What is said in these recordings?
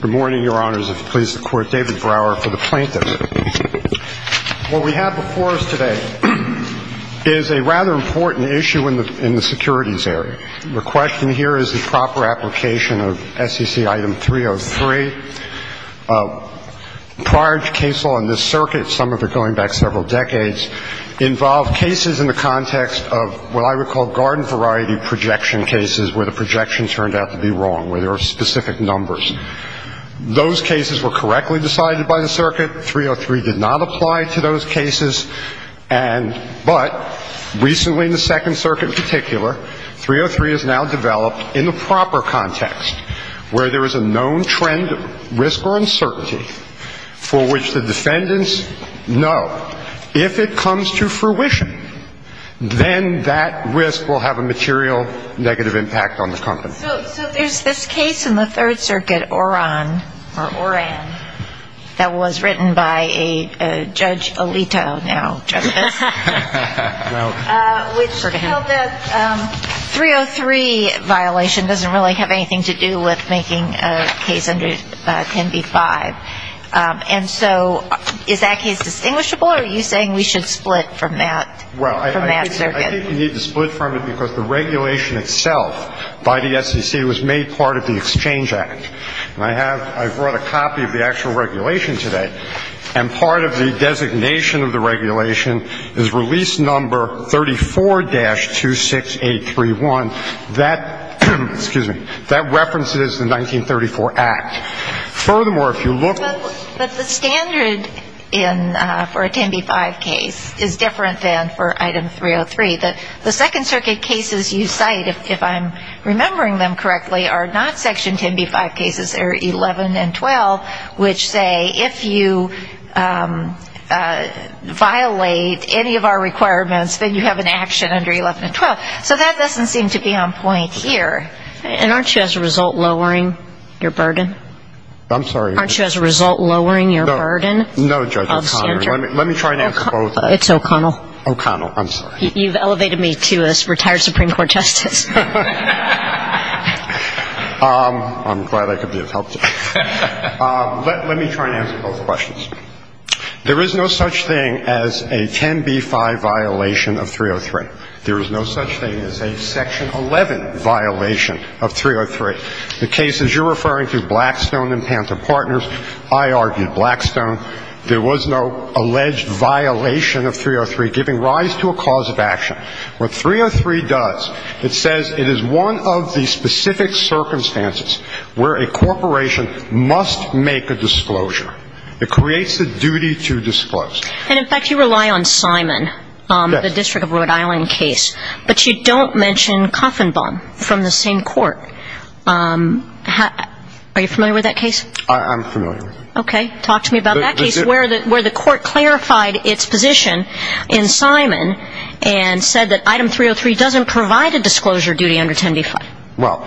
Good morning, Your Honors, and please support David Brower for the plaintiff. What we have before us today is a rather important issue in the securities area. The question here is the proper application of SEC Item 303. Prior to case law in this circuit, some of it going back several decades, involved cases in the context of what I would call garden variety projection cases where the projection turned out to be wrong, where there were specific numbers. Those cases were correctly decided by the circuit. 303 did not apply to those cases. And but recently in the Second Circuit in particular, 303 is now developed in the proper context where there is a known trend, risk, or uncertainty for which the defendants know if it comes to fruition, then that risk will have a material negative impact on the company. So there's this case in the Third Circuit, Oran, or Oran, that was written by a Judge Alito now, Justice, which held that 303 violation doesn't really have anything to do with making a case under 10b-5. And so is that case distinguishable, or are you saying we should split from that circuit? Well, I think we need to split from it because the regulation itself by the SEC was made part of the Exchange Act. And I have brought a copy of the actual regulation today. And part of the designation of the regulation is release number 34-26831. That references the 1934 Act. But the standard for a 10b-5 case is different than for item 303. The Second Circuit cases you cite, if I'm remembering them correctly, are not Section 10b-5 cases. They're 11 and 12, which say if you violate any of our requirements, then you have an action under 11 and 12. So that doesn't seem to be on point here. And aren't you, as a result, lowering your burden? I'm sorry. Aren't you, as a result, lowering your burden? No, Judge O'Connor. Let me try and answer both. It's O'Connell. O'Connell. I'm sorry. You've elevated me to a retired Supreme Court Justice. I'm glad I could be of help to you. Let me try and answer both questions. There is no such thing as a 10b-5 violation of 303. There is no such thing as a Section 11 violation of 303. The cases you're referring to, Blackstone and Panther Partners, I argued Blackstone. There was no alleged violation of 303 giving rise to a cause of action. What 303 does, it says it is one of the specific circumstances where a corporation must make a disclosure. It creates a duty to disclose. And, in fact, you rely on Simon, the District of Rhode Island case. But you don't mention Koffenbaum from the same court. Are you familiar with that case? I'm familiar with it. Okay. Talk to me about that case where the court clarified its position in Simon and said that item 303 doesn't provide a disclosure duty under 10b-5. Well,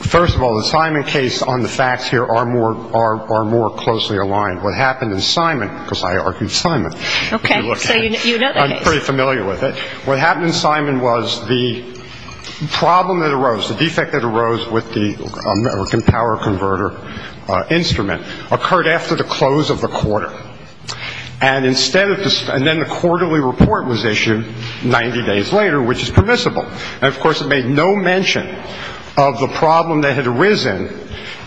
first of all, the Simon case on the facts here are more closely aligned. What happened in Simon, because I argued Simon. Okay. So you know the case. I'm pretty familiar with it. What happened in Simon was the problem that arose, the defect that arose with the American power converter instrument occurred after the close of the quarter. And instead of the – and then the quarterly report was issued 90 days later, which is permissible. And, of course, it made no mention of the problem that had arisen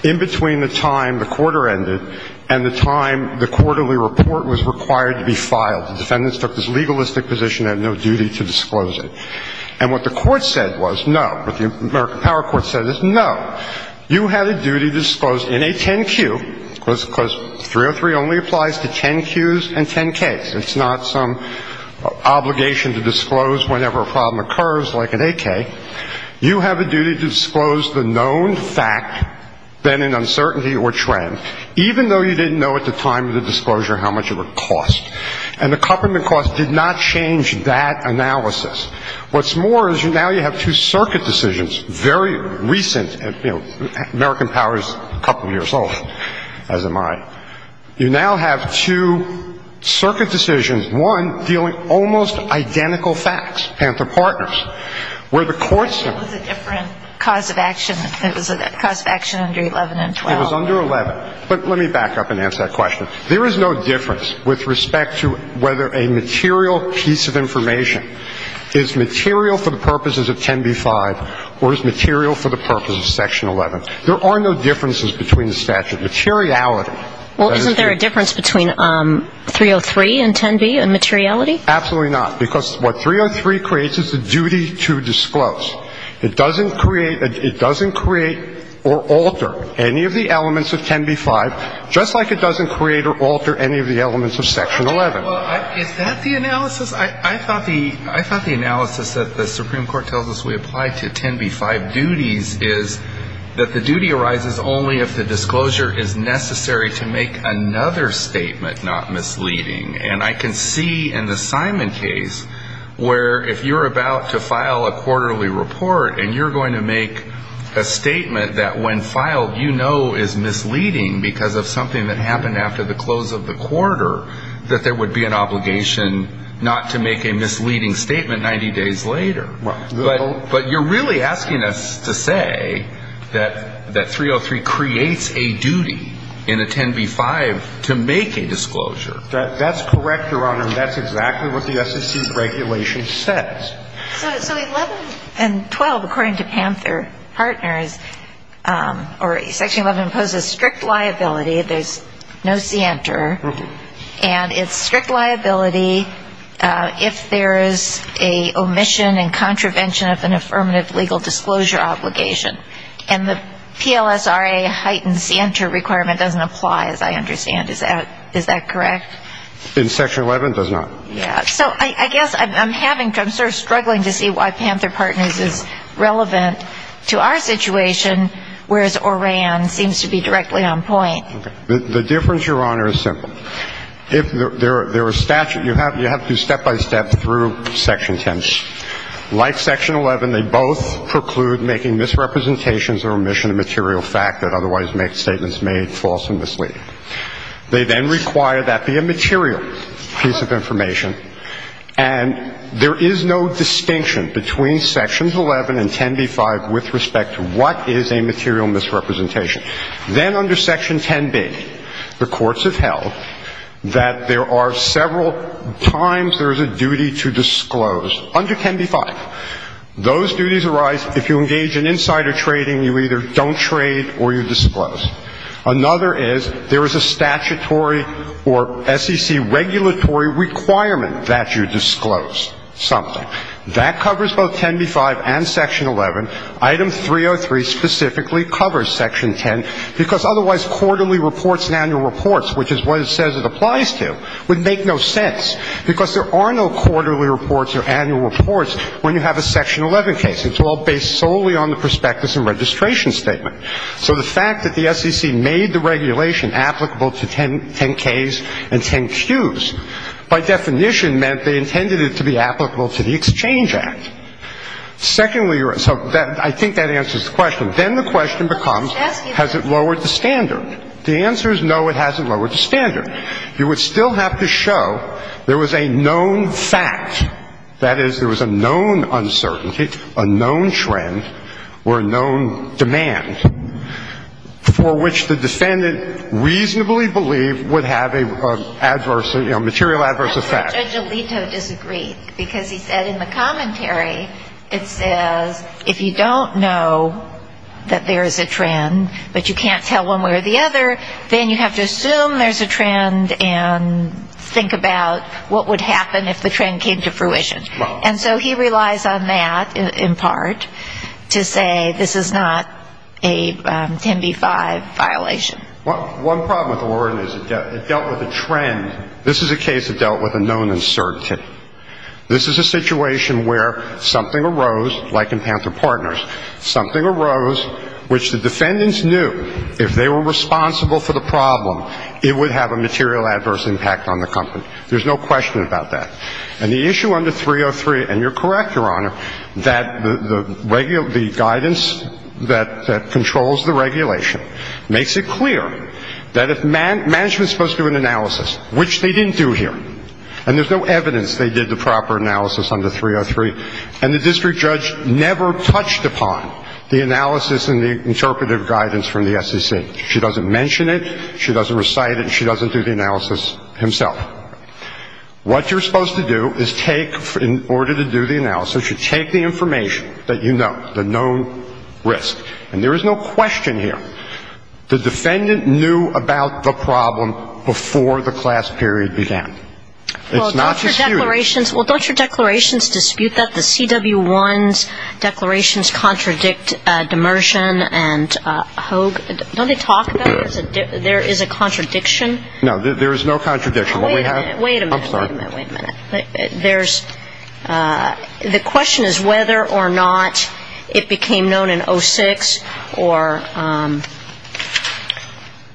in between the time the quarter ended and the time the quarterly report was required to be filed. The defendants took this legalistic position and had no duty to disclose it. And what the court said was no. What the American power court said is no. You had a duty to disclose in a 10-Q, because 303 only applies to 10-Qs and 10-Ks. It's not some obligation to disclose whenever a problem occurs like an 8-K. You have a duty to disclose the known fact, then an uncertainty or trend, even though you didn't know at the time of the disclosure how much it would cost. And the accompaniment cost did not change that analysis. What's more is now you have two circuit decisions, very recent. You know, American power is a couple years old, as am I. You now have two circuit decisions, one dealing almost identical facts, Panther Partners, where the court said. It was a different cause of action. It was a cause of action under 11 and 12. It was under 11. But let me back up and answer that question. There is no difference with respect to whether a material piece of information is material for the purposes of 10b-5 or is material for the purposes of Section 11. There are no differences between the statute. Materiality. Well, isn't there a difference between 303 and 10b in materiality? Absolutely not. Because what 303 creates is a duty to disclose. It doesn't create or alter any of the elements of 10b-5, just like it doesn't create or alter any of the elements of Section 11. Is that the analysis? I thought the analysis that the Supreme Court tells us we apply to 10b-5 duties is that the duty arises only if the disclosure is necessary to make another statement not misleading. And I can see in the Simon case where if you're about to file a quarterly report, and you're going to make a statement that when filed you know is misleading because of something that happened after the close of the quarter, that there would be an obligation not to make a misleading statement 90 days later. But you're really asking us to say that 303 creates a duty in a 10b-5 to make a disclosure. That's correct, Your Honor. That's exactly what the SEC regulation says. So 11 and 12, according to Panther Partners, or Section 11, imposes strict liability. There's no scienter. And it's strict liability if there is a omission and contravention of an affirmative legal disclosure obligation. And the PLSRA heightened scienter requirement doesn't apply, as I understand. Is that correct? In Section 11, it does not. Yeah. So I guess I'm having to, I'm sort of struggling to see why Panther Partners is relevant to our situation, whereas ORAN seems to be directly on point. The difference, Your Honor, is simple. If there are statute, you have to do step-by-step through Section 10. Like Section 11, they both preclude making misrepresentations or omission of material fact that otherwise make statements made false and misleading. They then require that be a material piece of information. And there is no distinction between Sections 11 and 10b-5 with respect to what is a material misrepresentation. Then under Section 10b, the courts have held that there are several times there is a duty to disclose. Under 10b-5, those duties arise if you engage in insider trading, you either don't trade or you disclose. Another is there is a statutory or SEC regulatory requirement that you disclose something. That covers both 10b-5 and Section 11. Item 303 specifically covers Section 10 because otherwise quarterly reports and annual reports, which is what it says it applies to, would make no sense because there are no quarterly reports or annual reports when you have a Section 11 case. It's all based solely on the prospectus and registration statement. So the fact that the SEC made the regulation applicable to 10ks and 10qs, by definition meant they intended it to be applicable to the Exchange Act. Secondly, so I think that answers the question. Then the question becomes, has it lowered the standard? The answer is no, it hasn't lowered the standard. You would still have to show there was a known fact, that is, there was a known uncertainty, a known trend or a known demand for which the defendant reasonably believed would have a material adverse effect. That's where Judge Alito disagreed because he said in the commentary, it says if you don't know that there is a trend but you can't tell one way or the other, then you have to assume there's a trend and think about what would happen if the trend came to fruition. And so he relies on that, in part, to say this is not a 10b-5 violation. One problem with the warden is it dealt with a trend. This is a case that dealt with a known uncertainty. This is a situation where something arose, like in Panther Partners, something arose which the defendants knew if they were responsible for the problem, it would have a material adverse impact on the company. There's no question about that. And the issue under 303, and you're correct, Your Honor, that the guidance that controls the regulation makes it clear that if management is supposed to do an analysis, which they didn't do here, and there's no evidence they did the proper analysis under 303, and the district judge never touched upon the analysis and the interpretive guidance from the SEC. She doesn't mention it, she doesn't recite it, and she doesn't do the analysis himself. What you're supposed to do is take, in order to do the analysis, you should take the information that you know, the known risk. And there is no question here. The defendant knew about the problem before the class period began. It's not just you. Well, don't your declarations dispute that? The CW1's declarations contradict Demersion and Hoag. Don't they talk about it? There is a contradiction? No, there is no contradiction. Wait a minute. I'm sorry. Wait a minute. The question is whether or not it became known in 06 or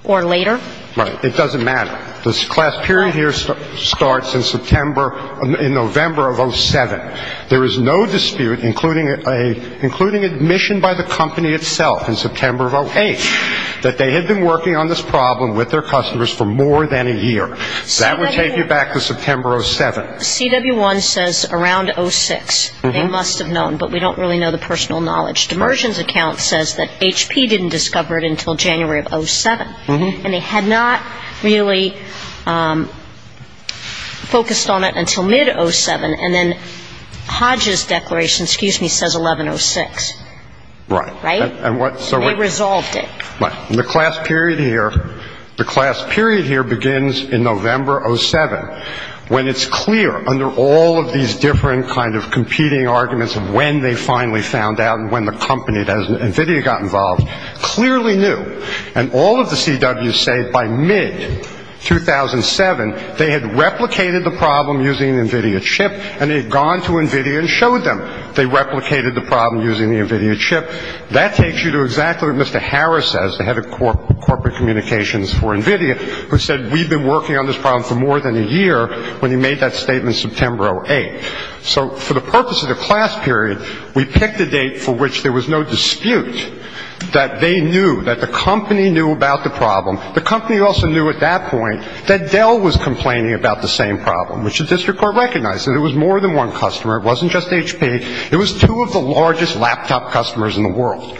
later. Right. It doesn't matter. This class period here starts in November of 07. There is no dispute, including admission by the company itself in September of 08, that they had been working on this problem with their customers for more than a year. That would take you back to September of 07. CW1 says around 06 they must have known, but we don't really know the personal knowledge. Demersion's account says that HP didn't discover it until January of 07, and they had not really focused on it until mid-07. And then Hoag's declaration, excuse me, says 11-06. Right. Right? They resolved it. Right. And the class period here begins in November 07, when it's clear under all of these different kind of competing arguments of when they finally found out and when the company, NVIDIA, got involved, clearly knew. And all of the CWs say by mid-2007 they had replicated the problem using an NVIDIA chip, and they had gone to NVIDIA and showed them they replicated the problem using the NVIDIA chip. That takes you to exactly what Mr. Harris says, the head of corporate communications for NVIDIA, who said we've been working on this problem for more than a year when he made that statement September 08. So for the purpose of the class period, we picked a date for which there was no dispute that they knew, that the company knew about the problem. The company also knew at that point that Dell was complaining about the same problem, which the district court recognized, and it was more than one customer. It wasn't just HP. It was two of the largest laptop customers in the world.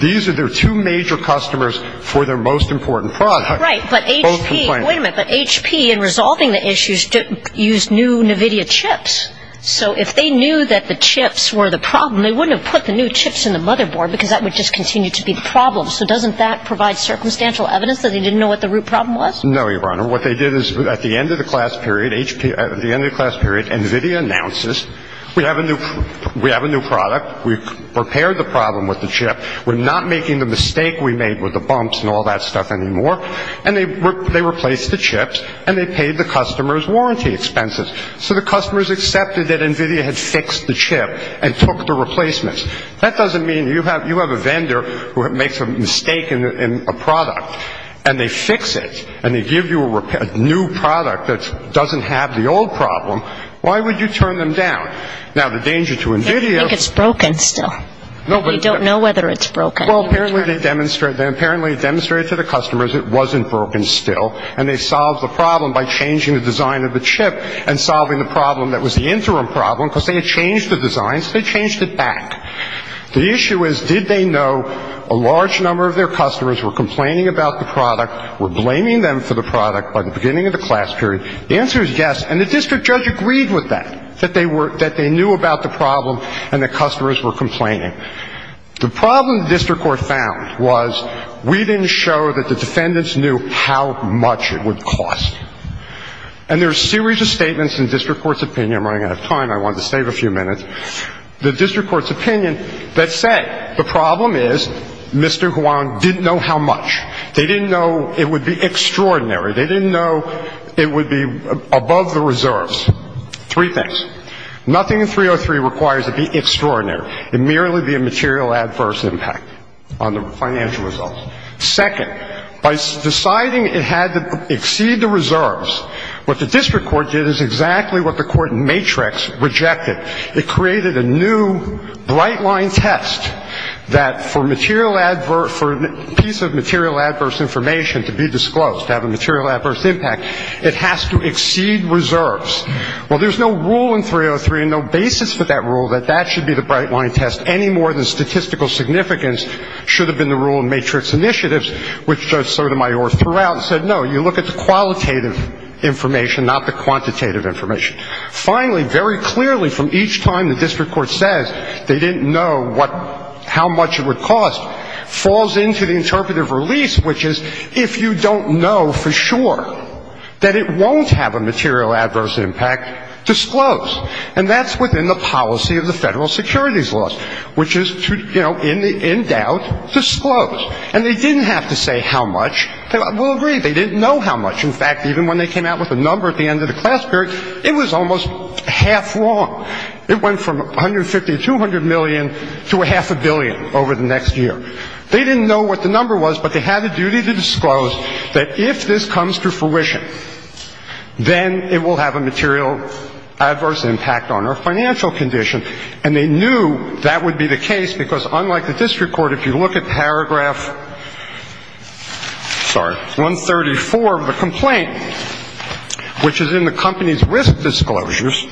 These are their two major customers for their most important product. Right, but HP, wait a minute, but HP, in resolving the issues, used new NVIDIA chips. So if they knew that the chips were the problem, they wouldn't have put the new chips in the motherboard because that would just continue to be the problem. So doesn't that provide circumstantial evidence that they didn't know what the root problem was? No, Your Honor. What they did is at the end of the class period, HP, at the end of the class period, NVIDIA announces, we have a new product. We've repaired the problem with the chip. We're not making the mistake we made with the bumps and all that stuff anymore. And they replaced the chips, and they paid the customer's warranty expenses. So the customers accepted that NVIDIA had fixed the chip and took the replacements. That doesn't mean you have a vendor who makes a mistake in a product, and they fix it, and they give you a new product that doesn't have the old problem. Why would you turn them down? Now, the danger to NVIDIA is – I think it's broken still. We don't know whether it's broken. Well, apparently they demonstrated to the customers it wasn't broken still, and they solved the problem by changing the design of the chip and solving the problem that was the interim problem because they had changed the design, so they changed it back. The issue is did they know a large number of their customers were complaining about the product, were blaming them for the product by the beginning of the class period? The answer is yes. And the district judge agreed with that, that they knew about the problem and the customers were complaining. The problem the district court found was we didn't show that the defendants knew how much it would cost. And there are a series of statements in the district court's opinion – I'm running out of time. I wanted to save a few minutes – the district court's opinion that said the problem is Mr. Huang didn't know how much. They didn't know it would be extraordinary. They didn't know it would be above the reserves. Three things. Nothing in 303 requires it to be extraordinary. It merely be a material adverse impact on the financial results. Second, by deciding it had to exceed the reserves, what the district court did is exactly what the court in Matrix rejected. It created a new bright-line test that for material adverse – it has to exceed reserves. Well, there's no rule in 303 and no basis for that rule that that should be the bright-line test any more than statistical significance should have been the rule in Matrix initiatives, which Judge Sotomayor threw out and said no, you look at the qualitative information, not the quantitative information. Finally, very clearly from each time the district court says they didn't know how much it would cost, falls into the interpretive release, which is if you don't know for sure that it won't have a material adverse impact, disclose. And that's within the policy of the federal securities laws, which is to, you know, in doubt, disclose. And they didn't have to say how much. We'll agree they didn't know how much. In fact, even when they came out with a number at the end of the class period, it was almost half wrong. It went from 150 to 200 million to a half a billion over the next year. They didn't know what the number was, but they had a duty to disclose that if this comes to fruition, then it will have a material adverse impact on our financial condition. And they knew that would be the case because unlike the district court, if you look at paragraph – sorry – 134 of the complaint, which is in the company's risk disclosures,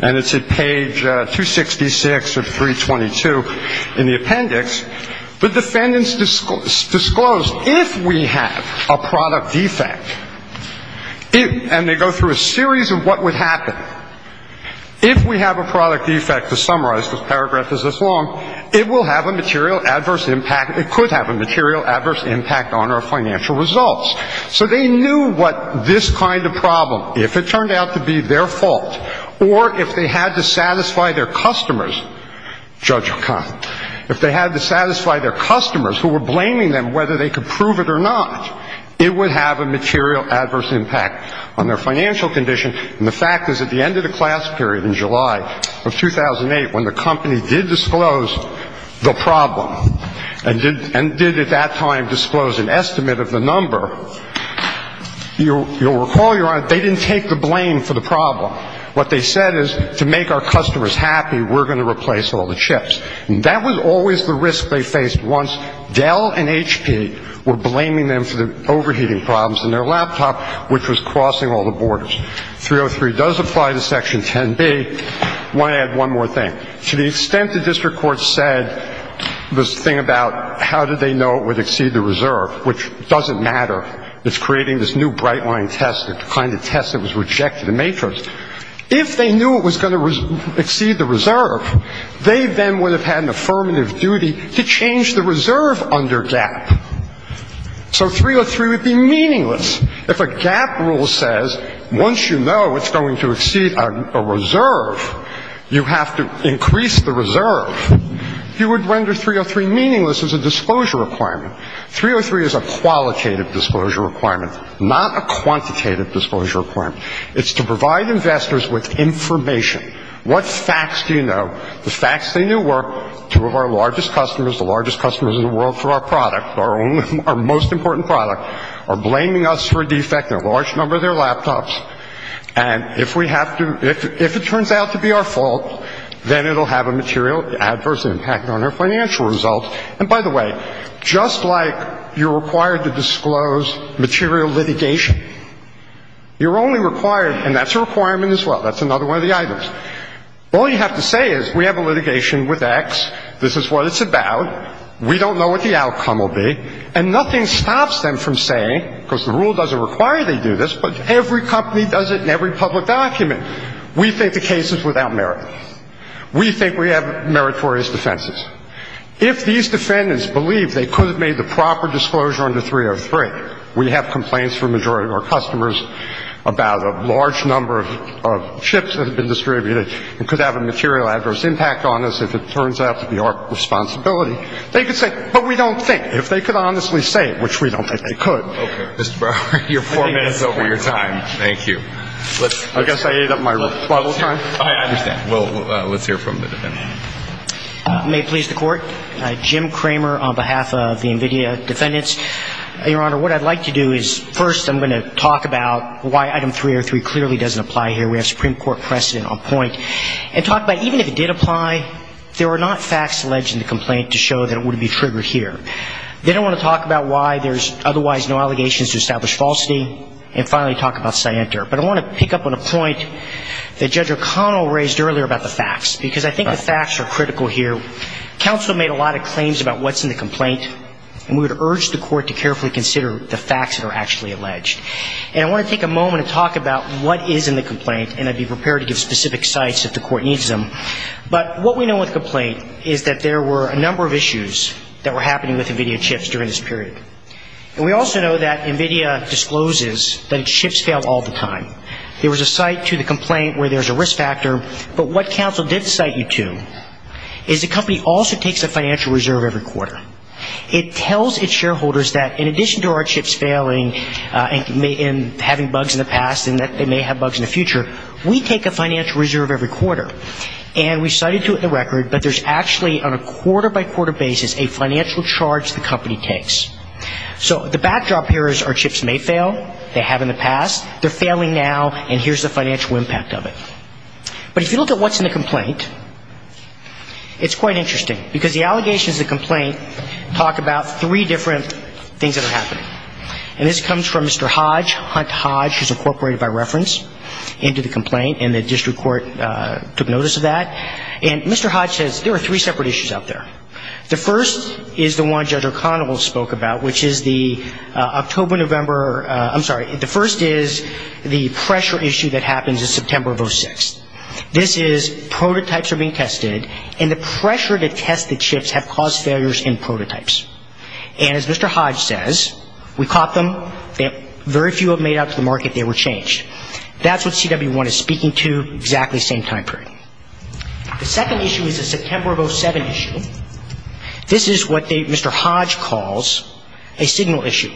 and it's at page 266 of 322 in the appendix, the defendants disclosed if we have a product defect, and they go through a series of what would happen. If we have a product defect, to summarize the paragraph is this long, it will have a material adverse impact. And it could have a material adverse impact on our financial results. So they knew what this kind of problem, if it turned out to be their fault or if they had to satisfy their customers, Judge O'Connell, if they had to satisfy their customers who were blaming them whether they could prove it or not, it would have a material adverse impact on their financial condition. And the fact is at the end of the class period in July of 2008, when the company did disclose the problem and did at that time disclose an estimate of the number, you'll recall, Your Honor, they didn't take the blame for the problem. What they said is to make our customers happy, we're going to replace all the chips. And that was always the risk they faced once Dell and HP were blaming them for the overheating problems in their laptop, which was crossing all the borders. 303 does apply to Section 10B. I want to add one more thing. To the extent the district court said this thing about how did they know it would exceed the reserve, which doesn't matter, it's creating this new bright-line test, the kind of test that was rejected in Matros, if they knew it was going to exceed the reserve, they then would have had an affirmative duty to change the reserve under GAAP. So 303 would be meaningless. If a GAAP rule says once you know it's going to exceed a reserve, you have to increase the reserve, you would render 303 meaningless as a disclosure requirement. 303 is a qualitative disclosure requirement, not a quantitative disclosure requirement. It's to provide investors with information. What facts do you know? The facts they knew were two of our largest customers, the largest customers in the world for our product, our most important product, are blaming us for a defect in a large number of their laptops. And if it turns out to be our fault, then it will have a material adverse impact on our financial results. And by the way, just like you're required to disclose material litigation, you're only required, and that's a requirement as well, that's another one of the items. All you have to say is we have a litigation with X, this is what it's about, we don't know what the outcome will be, and nothing stops them from saying, because the rule doesn't require they do this, but every company does it in every public document, we think the case is without merit. We think we have meritorious defenses. If these defendants believe they could have made the proper disclosure under 303, we have complaints from a majority of our customers about a large number of chips that have been distributed and could have a material adverse impact on us if it turns out to be our responsibility. They could say, but we don't think. If they could honestly say it, which we don't think they could. Okay. Mr. Brower, you're four minutes over your time. Thank you. I guess I ate up my rebuttal time. I understand. Well, let's hear from the defendant. May it please the Court. Jim Kramer on behalf of the NVIDIA defendants. Your Honor, what I'd like to do is first I'm going to talk about why item 303 clearly doesn't apply here. We have Supreme Court precedent on point. And talk about even if it did apply, there were not facts alleged in the complaint to show that it would be triggered here. Then I want to talk about why there's otherwise no allegations to establish falsity. And finally talk about scienter. But I want to pick up on a point that Judge O'Connell raised earlier about the facts, because I think the facts are critical here. Counsel made a lot of claims about what's in the complaint. And we would urge the Court to carefully consider the facts that are actually alleged. And I want to take a moment and talk about what is in the complaint. And I'd be prepared to give specific sites if the Court needs them. But what we know with complaint is that there were a number of issues that were happening with NVIDIA chips during this period. And we also know that NVIDIA discloses that its chips fail all the time. There was a site to the complaint where there's a risk factor. But what counsel did cite you to is the company also takes a financial reserve every quarter. It tells its shareholders that in addition to our chips failing and having bugs in the past and that they may have bugs in the future, we take a financial reserve every quarter. And we cited to it in the record that there's actually on a quarter-by-quarter basis a financial charge the company takes. So the backdrop here is our chips may fail. They have in the past. They're failing now. And here's the financial impact of it. But if you look at what's in the complaint, it's quite interesting. Because the allegations of the complaint talk about three different things that are happening. And this comes from Mr. Hodge, Hunt Hodge, who's incorporated by reference into the complaint. And the district court took notice of that. And Mr. Hodge says there are three separate issues out there. The first is the one Judge O'Connell spoke about, which is the October-November ‑‑ I'm sorry. The first is the pressure issue that happens in September of 06. This is prototypes are being tested, and the pressure to test the chips have caused failures in prototypes. And as Mr. Hodge says, we caught them. Very few have made it out to the market. They were changed. That's what CW1 is speaking to, exactly the same time period. The second issue is the September of 07 issue. This is what Mr. Hodge calls a signal issue.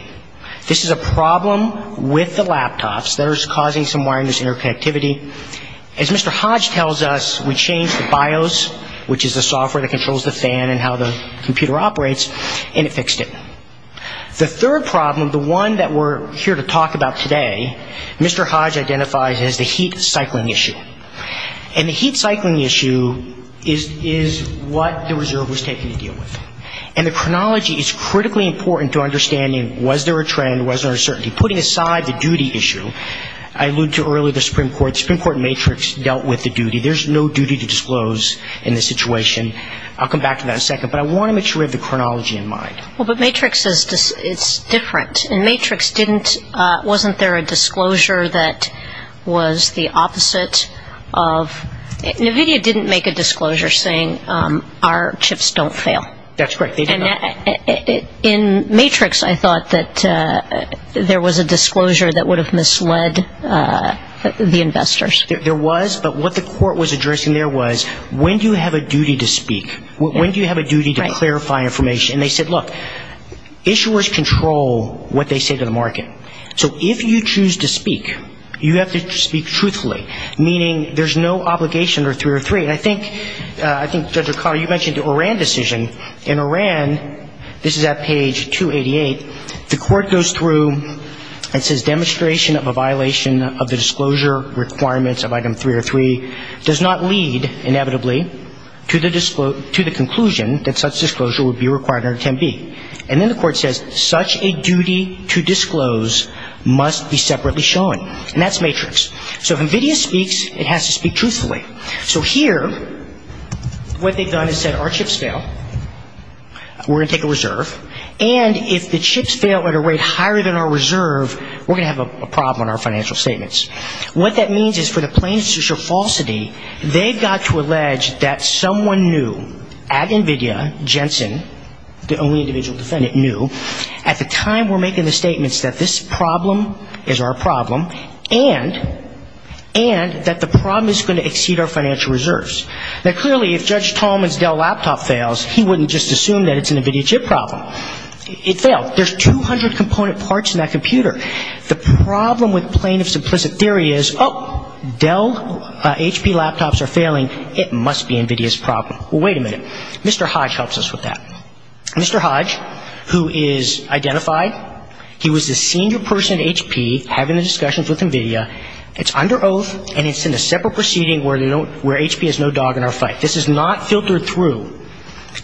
This is a problem with the laptops that are causing some wireless interconnectivity. As Mr. Hodge tells us, we changed the BIOS, which is the software that controls the fan and how the computer operates, and it fixed it. The third problem, the one that we're here to talk about today, Mr. Hodge identifies as the heat cycling issue. And the heat cycling issue is what the reserve was taking to deal with. And the chronology is critically important to understanding was there a trend, was there a certainty. Putting aside the duty issue, I alluded to earlier the Supreme Court. The Supreme Court and Matrix dealt with the duty. There's no duty to disclose in this situation. I'll come back to that in a second, but I want to make sure we have the chronology in mind. Well, but Matrix is different. In Matrix, wasn't there a disclosure that was the opposite of ‑‑ That's correct. In Matrix, I thought that there was a disclosure that would have misled the investors. There was, but what the court was addressing there was when do you have a duty to speak? When do you have a duty to clarify information? And they said, look, issuers control what they say to the market. So if you choose to speak, you have to speak truthfully, meaning there's no obligation under 303. And I think, Judge O'Connell, you mentioned the Iran decision. In Iran, this is at page 288, the court goes through and says demonstration of a violation of the disclosure requirements of item 303 does not lead inevitably to the conclusion that such disclosure would be required under 10B. And then the court says such a duty to disclose must be separately shown. And that's Matrix. So if NVIDIA speaks, it has to speak truthfully. So here, what they've done is said our chips fail, we're going to take a reserve, and if the chips fail at a rate higher than our reserve, we're going to have a problem in our financial statements. What that means is for the plaintiffs to show falsity, they've got to allege that someone new at NVIDIA, Jensen, the only individual defendant new, at the time we're making the statements that this problem is our problem and that the problem is going to exceed our financial reserves. Now, clearly, if Judge Tolman's Dell laptop fails, he wouldn't just assume that it's an NVIDIA chip problem. It failed. There's 200 component parts in that computer. The problem with plaintiff's implicit theory is, oh, Dell HP laptops are failing. It must be NVIDIA's problem. Well, wait a minute. Mr. Hodge helps us with that. Mr. Hodge, who is identified, he was the senior person at HP having the discussions with NVIDIA. It's under oath, and it's in a separate proceeding where HP has no dog in our fight. This is not filtered through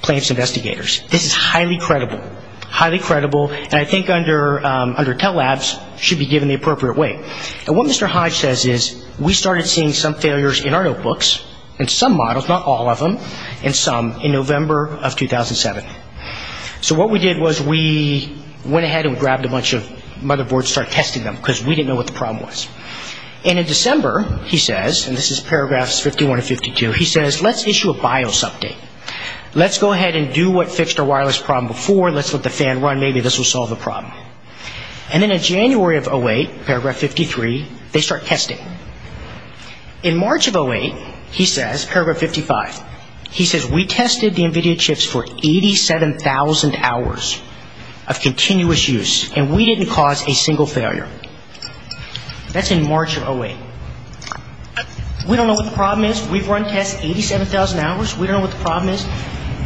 plaintiff's investigators. This is highly credible. Highly credible, and I think under Tell Labs should be given the appropriate weight. And what Mr. Hodge says is, we started seeing some failures in our notebooks, in some models, not all of them, and some in November of 2007. So what we did was we went ahead and grabbed a bunch of motherboards and started testing them, because we didn't know what the problem was. And in December, he says, and this is paragraphs 51 and 52, he says, let's issue a BIOS update. Let's go ahead and do what fixed our wireless problem before. Let's let the fan run. Maybe this will solve the problem. And then in January of 08, paragraph 53, they start testing. In March of 08, he says, paragraph 55, he says, we tested the NVIDIA chips for 87,000 hours of continuous use, and we didn't cause a single failure. That's in March of 08. We don't know what the problem is. We've run tests 87,000 hours. We don't know what the problem is.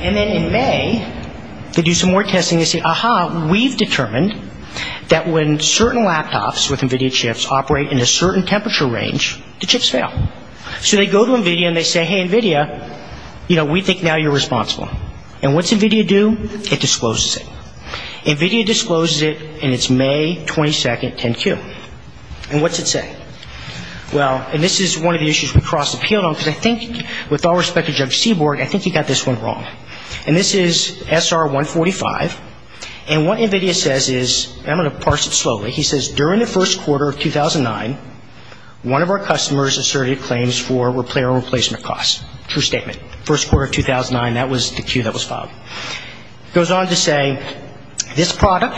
And then in May, they do some more testing. They say, aha, we've determined that when certain laptops with NVIDIA chips operate in a certain temperature range, the chips fail. So they go to NVIDIA, and they say, hey, NVIDIA, you know, we think now you're responsible. And what's NVIDIA do? It discloses it. NVIDIA discloses it, and it's May 22, 10Q. And what's it say? Well, and this is one of the issues we crossed a field on, because I think with all respect to Judge Seaborg, I think he got this one wrong. And this is SR145. And what NVIDIA says is, and I'm going to parse it slowly. He says, during the first quarter of 2009, one of our customers asserted claims for player replacement costs. True statement. First quarter of 2009, that was the cue that was filed. It goes on to say, this product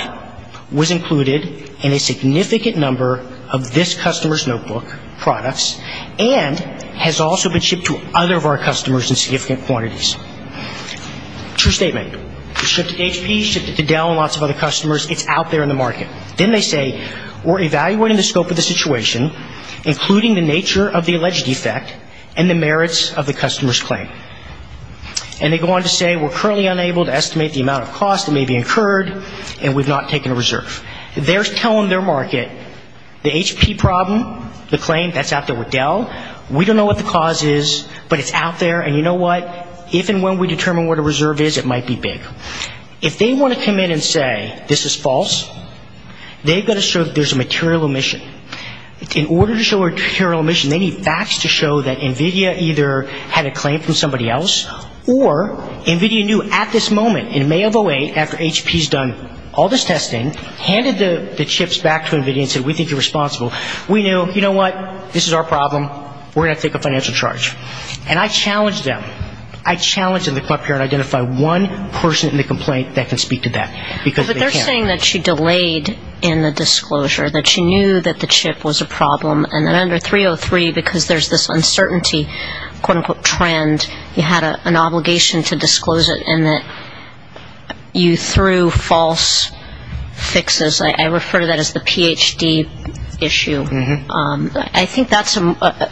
was included in a significant number of this customer's notebook products and has also been shipped to other of our customers in significant quantities. True statement. It was shipped to HP, shipped to Dell and lots of other customers. It's out there in the market. Then they say, we're evaluating the scope of the situation, including the nature of the alleged defect and the merits of the customer's claim. And they go on to say, we're currently unable to estimate the amount of cost that may be incurred, and we've not taken a reserve. They're telling their market, the HP problem, the claim, that's out there with Dell. We don't know what the cause is, but it's out there. And you know what? If and when we determine what a reserve is, it might be big. If they want to come in and say, this is false, they've got to show that there's a material omission. In order to show a material omission, they need facts to show that NVIDIA either had a claim from somebody else or NVIDIA knew at this moment, in May of 08, after HP's done all this testing, handed the chips back to NVIDIA and said, we think you're responsible. We knew, you know what? This is our problem. We're going to take a financial charge. And I challenged them. I challenged them to come up here and identify one person in the complaint that can speak to that. Because they can't. But they're saying that she delayed in the disclosure, that she knew that the chip was a problem, and that under 303, because there's this uncertainty, quote, unquote, trend, you had an obligation to disclose it and that you threw false fixes. I refer to that as the PhD issue. I think that's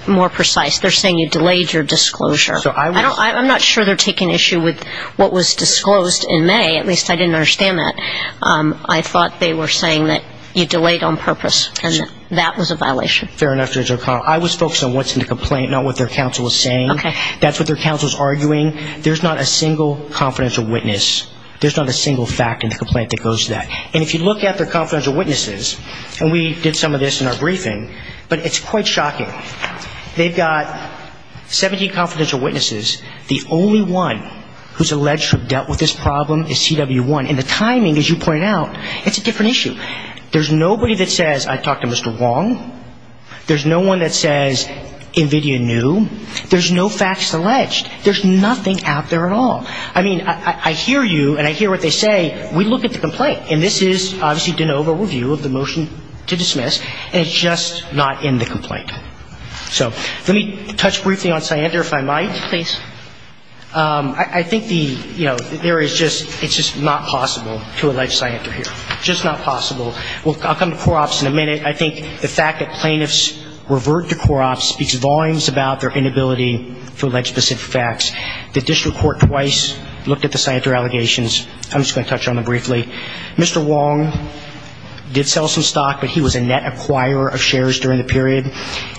more precise. They're saying you delayed your disclosure. I'm not sure they're taking issue with what was disclosed in May. At least I didn't understand that. I thought they were saying that you delayed on purpose and that that was a violation. Fair enough, Judge O'Connell. I was focused on what's in the complaint, not what their counsel was saying. That's what their counsel is arguing. There's not a single confidential witness. There's not a single fact in the complaint that goes to that. And if you look at their confidential witnesses, and we did some of this in our briefing, but it's quite shocking. They've got 17 confidential witnesses. The only one who's alleged to have dealt with this problem is CW1. And the timing, as you pointed out, it's a different issue. There's nobody that says, I talked to Mr. Wong. There's no one that says NVIDIA knew. There's no facts alleged. There's nothing out there at all. I mean, I hear you, and I hear what they say. We look at the complaint, and this is obviously de novo review of the motion to dismiss, and it's just not in the complaint. So let me touch briefly on Siander, if I might. Please. I think the, you know, there is just, it's just not possible to allege Siander here. Just not possible. I'll come to Corops in a minute. I think the fact that plaintiffs revert to Corops speaks volumes about their inability to allege specific facts. The district court twice looked at the Siander allegations. I'm just going to touch on them briefly. Mr. Wong did sell some stock, but he was a net acquirer of shares during the period.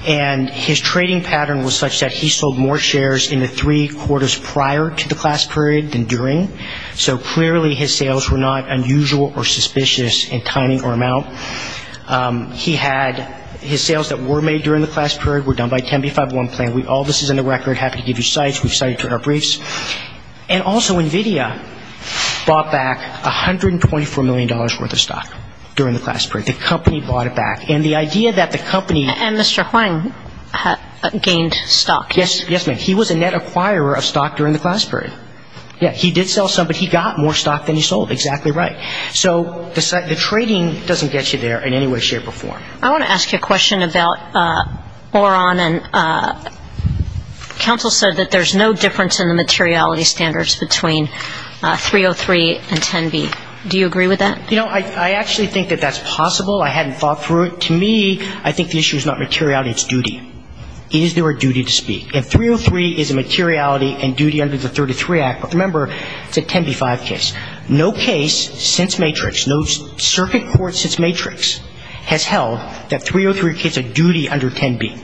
And his trading pattern was such that he sold more shares in the three quarters prior to the class period than during. So clearly his sales were not unusual or suspicious in timing or amount. He had his sales that were made during the class period were done by 10B501 plan. All this is in the record. Happy to give you cites. We've cited it to our briefs. And also NVIDIA bought back $124 million worth of stock during the class period. The company bought it back. And the idea that the company ---- And Mr. Huang gained stock. Yes, ma'am. He was a net acquirer of stock during the class period. Yes, he did sell some, but he got more stock than he sold. Exactly right. So the trading doesn't get you there in any way, shape, or form. I want to ask you a question about Oron. And counsel said that there's no difference in the materiality standards between 303 and 10B. Do you agree with that? You know, I actually think that that's possible. I hadn't thought through it. To me, I think the issue is not materiality. It's duty. Is there a duty to speak? And 303 is a materiality and duty under the 33 Act. But remember, it's a 10B-5 case. No case since Matrix, no circuit court since Matrix has held that 303 is a duty under 10B. It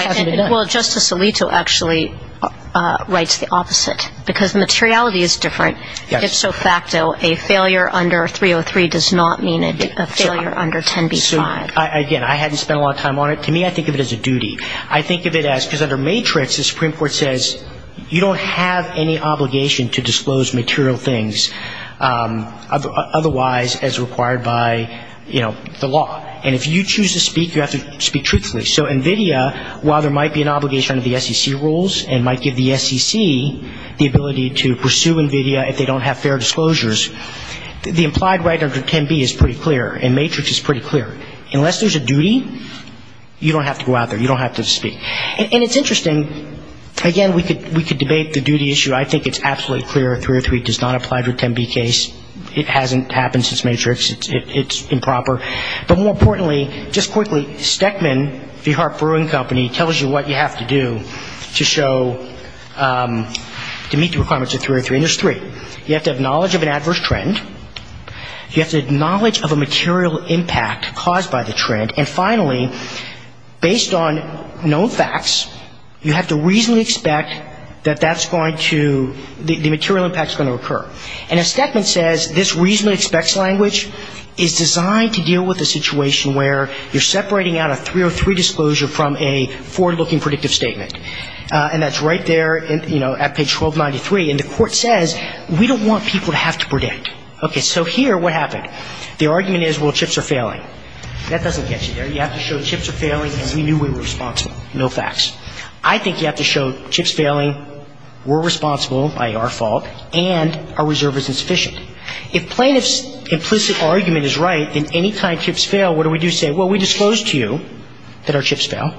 hasn't been done. Well, Justice Alito actually writes the opposite. Because materiality is different. If so facto, a failure under 303 does not mean a failure under 10B-5. Again, I hadn't spent a lot of time on it. To me, I think of it as a duty. I think of it as, because under Matrix, the Supreme Court says you don't have any obligation to disclose material things otherwise as required by, you know, the law. And if you choose to speak, you have to speak truthfully. So NVIDIA, while there might be an obligation under the SEC rules and might give the SEC the ability to pursue NVIDIA if they don't have fair disclosures, the implied right under 10B is pretty clear and Matrix is pretty clear. Unless there's a duty, you don't have to go out there. You don't have to speak. And it's interesting, again, we could debate the duty issue. I think it's absolutely clear 303 does not apply to a 10B case. It hasn't happened since Matrix. It's improper. But more importantly, just quickly, Stekman, the Hart Brewing Company, tells you what you have to do to show, to meet the requirements of 303. And there's three. You have to have knowledge of an adverse trend. You have to acknowledge of a material impact caused by the trend. And finally, based on known facts, you have to reasonably expect that that's going to, the material impact is going to occur. And as Stekman says, this reasonably expects language is designed to deal with a situation where you're separating out a 303 disclosure from a forward-looking predictive statement. And that's right there, you know, at page 1293. And the court says, we don't want people to have to predict. Okay. So here, what happened? The argument is, well, chips are failing. That doesn't get you there. You have to show chips are failing and we knew we were responsible. No facts. I think you have to show chips failing, we're responsible by our fault, and our reserve isn't sufficient. If plaintiff's implicit argument is right, then any kind of chips fail, what do we do? Say, well, we disclosed to you that our chips fail.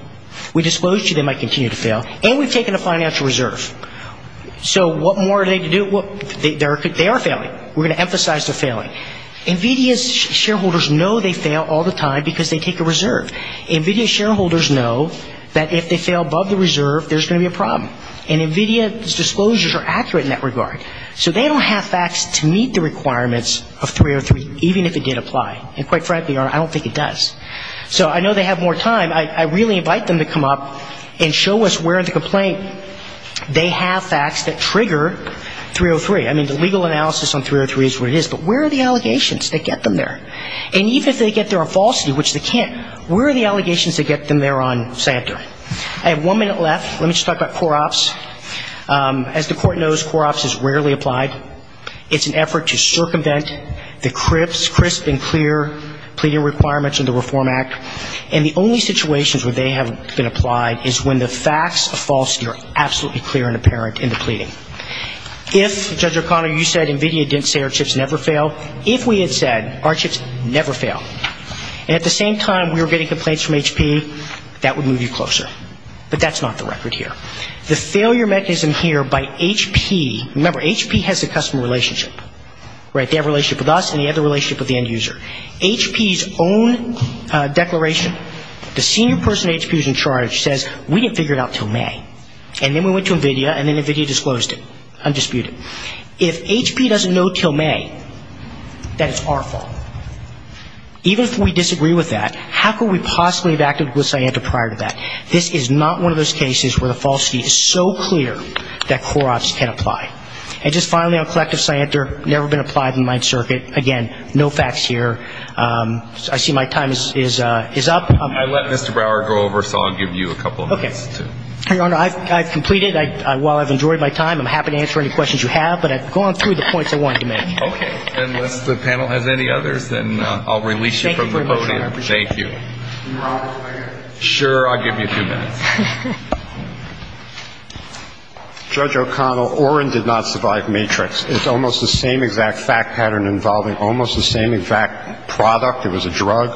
We disclosed to you they might continue to fail. And we've taken a financial reserve. So what more are they to do? They are failing. We're going to emphasize they're failing. NVIDIA's shareholders know they fail all the time because they take a reserve. NVIDIA shareholders know that if they fail above the reserve, there's going to be a problem. And NVIDIA's disclosures are accurate in that regard. So they don't have facts to meet the requirements of 303, even if it did apply. And quite frankly, I don't think it does. So I know they have more time. I really invite them to come up and show us where in the complaint they have facts that trigger 303. I mean, the legal analysis on 303 is what it is. But where are the allegations that get them there? And even if they get there on falsity, which they can't, where are the allegations that get them there on Santa? I have one minute left. Let me just talk about COROPS. As the Court knows, COROPS is rarely applied. It's an effort to circumvent the crisp and clear pleading requirements of the Reform Act. And the only situations where they have been applied is when the facts of falsity are absolutely clear and apparent in the pleading. If, Judge O'Connor, you said NVIDIA didn't say our chips never fail, if we had said our chips never fail, and at the same time we were getting complaints from HP, that would move you closer. But that's not the record here. The failure mechanism here by HP, remember, HP has a customer relationship. Right? They have a relationship with us and they have a relationship with the end user. HP's own declaration, the senior person HP is in charge says we didn't figure it out until May. And then we went to NVIDIA and then NVIDIA disclosed it, undisputed. If HP doesn't know until May, that is our fault. Even if we disagree with that, how could we possibly have acted with Sienta prior to that? This is not one of those cases where the falsity is so clear that COROPS can apply. And just finally on Collective Sienta, never been applied in my circuit. Again, no facts here. I see my time is up. I let Mr. Brower go over, so I'll give you a couple of minutes. Okay. Your Honor, I've completed. While I've enjoyed my time, I'm happy to answer any questions you have. But I've gone through the points I wanted to make. Okay. And unless the panel has any others, then I'll release you from the podium. Thank you very much, Your Honor. I appreciate it. Thank you. Sure, I'll give you two minutes. Judge O'Connell, Orrin did not survive Matrix. It's almost the same exact fact pattern involving almost the same exact product. It was a drug.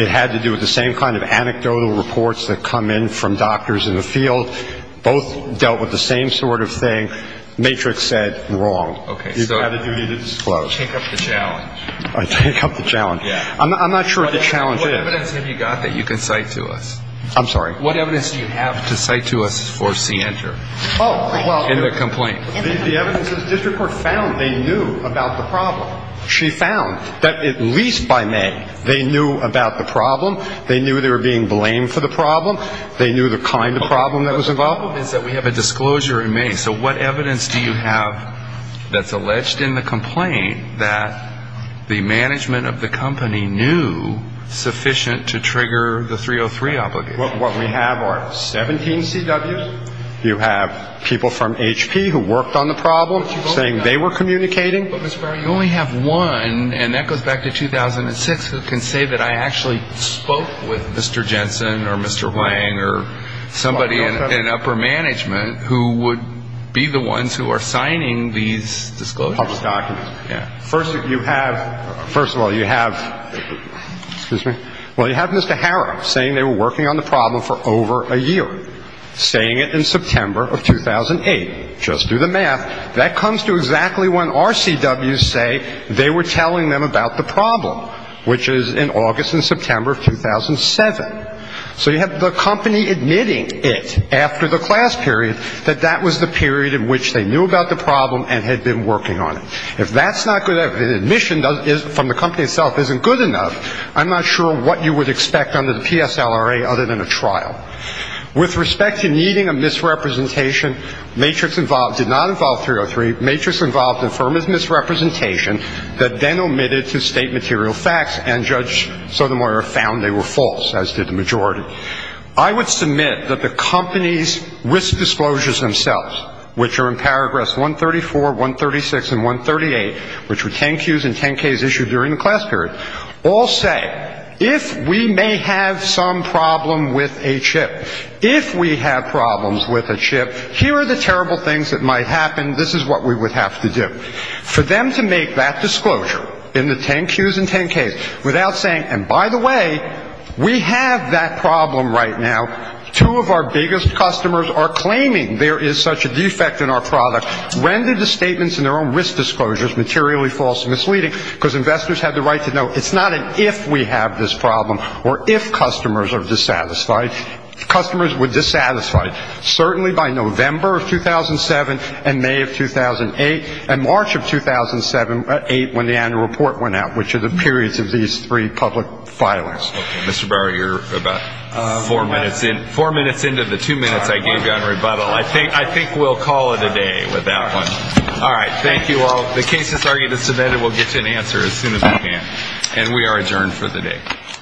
It had to do with the same kind of anecdotal reports that come in from doctors in the field. Both dealt with the same sort of thing. Matrix said, wrong. Okay. You've got a duty to disclose. Take up the challenge. Take up the challenge. Yeah. I'm not sure what the challenge is. What evidence have you got that you can cite to us? I'm sorry? What evidence do you have to cite to us for C-Enter in the complaint? The evidence is district court found they knew about the problem. She found that at least by May they knew about the problem. They knew they were being blamed for the problem. They knew the kind of problem that was involved. The problem is that we have a disclosure in May. So what evidence do you have that's alleged in the complaint that the management of the company knew sufficient to trigger the 303 obligation? What we have are 17 CWs. You have people from HP who worked on the problem saying they were communicating. But, Mr. Barry, you only have one, and that goes back to 2006, who can say that I actually spoke with Mr. Jensen or Mr. Wang or somebody in upper management who would be the ones who are signing these disclosures. Public documents. Yeah. First of all, you have Mr. Harrop saying they were working on the problem. They were working on the problem for over a year, saying it in September of 2008. Just do the math. That comes to exactly when our CWs say they were telling them about the problem, which is in August and September of 2007. So you have the company admitting it after the class period that that was the period in which they knew about the problem and had been working on it. If that's not good enough, if the admission from the company itself isn't good enough, I'm not sure what you would expect under the PSLRA other than a trial. With respect to needing a misrepresentation, Matrix Involved did not involve 303. Matrix Involved affirmed its misrepresentation, but then omitted to state material facts, and Judge Sotomayor found they were false, as did the majority. I would submit that the company's risk disclosures themselves, which are in paragraphs 134, 136, and 138, which were 10Qs and 10Ks issued during the class period, all say, if we may have some problem with a chip, if we have problems with a chip, here are the terrible things that might happen. This is what we would have to do. For them to make that disclosure in the 10Qs and 10Ks without saying, and by the way, we have that problem right now, two of our biggest customers are claiming there is such a defect in our product, rendered the statements in their own risk disclosures materially false and misleading because investors had the right to know. It's not an if we have this problem or if customers are dissatisfied. Customers were dissatisfied, certainly by November of 2007 and May of 2008 and March of 2007 and 2008 when the annual report went out, which are the periods of these three public filings. Mr. Barr, you're about four minutes into the two minutes I gave you on rebuttal. I think we'll call it a day with that one. All right, thank you all. The cases are either submitted or we'll get to an answer as soon as we can. And we are adjourned for the day.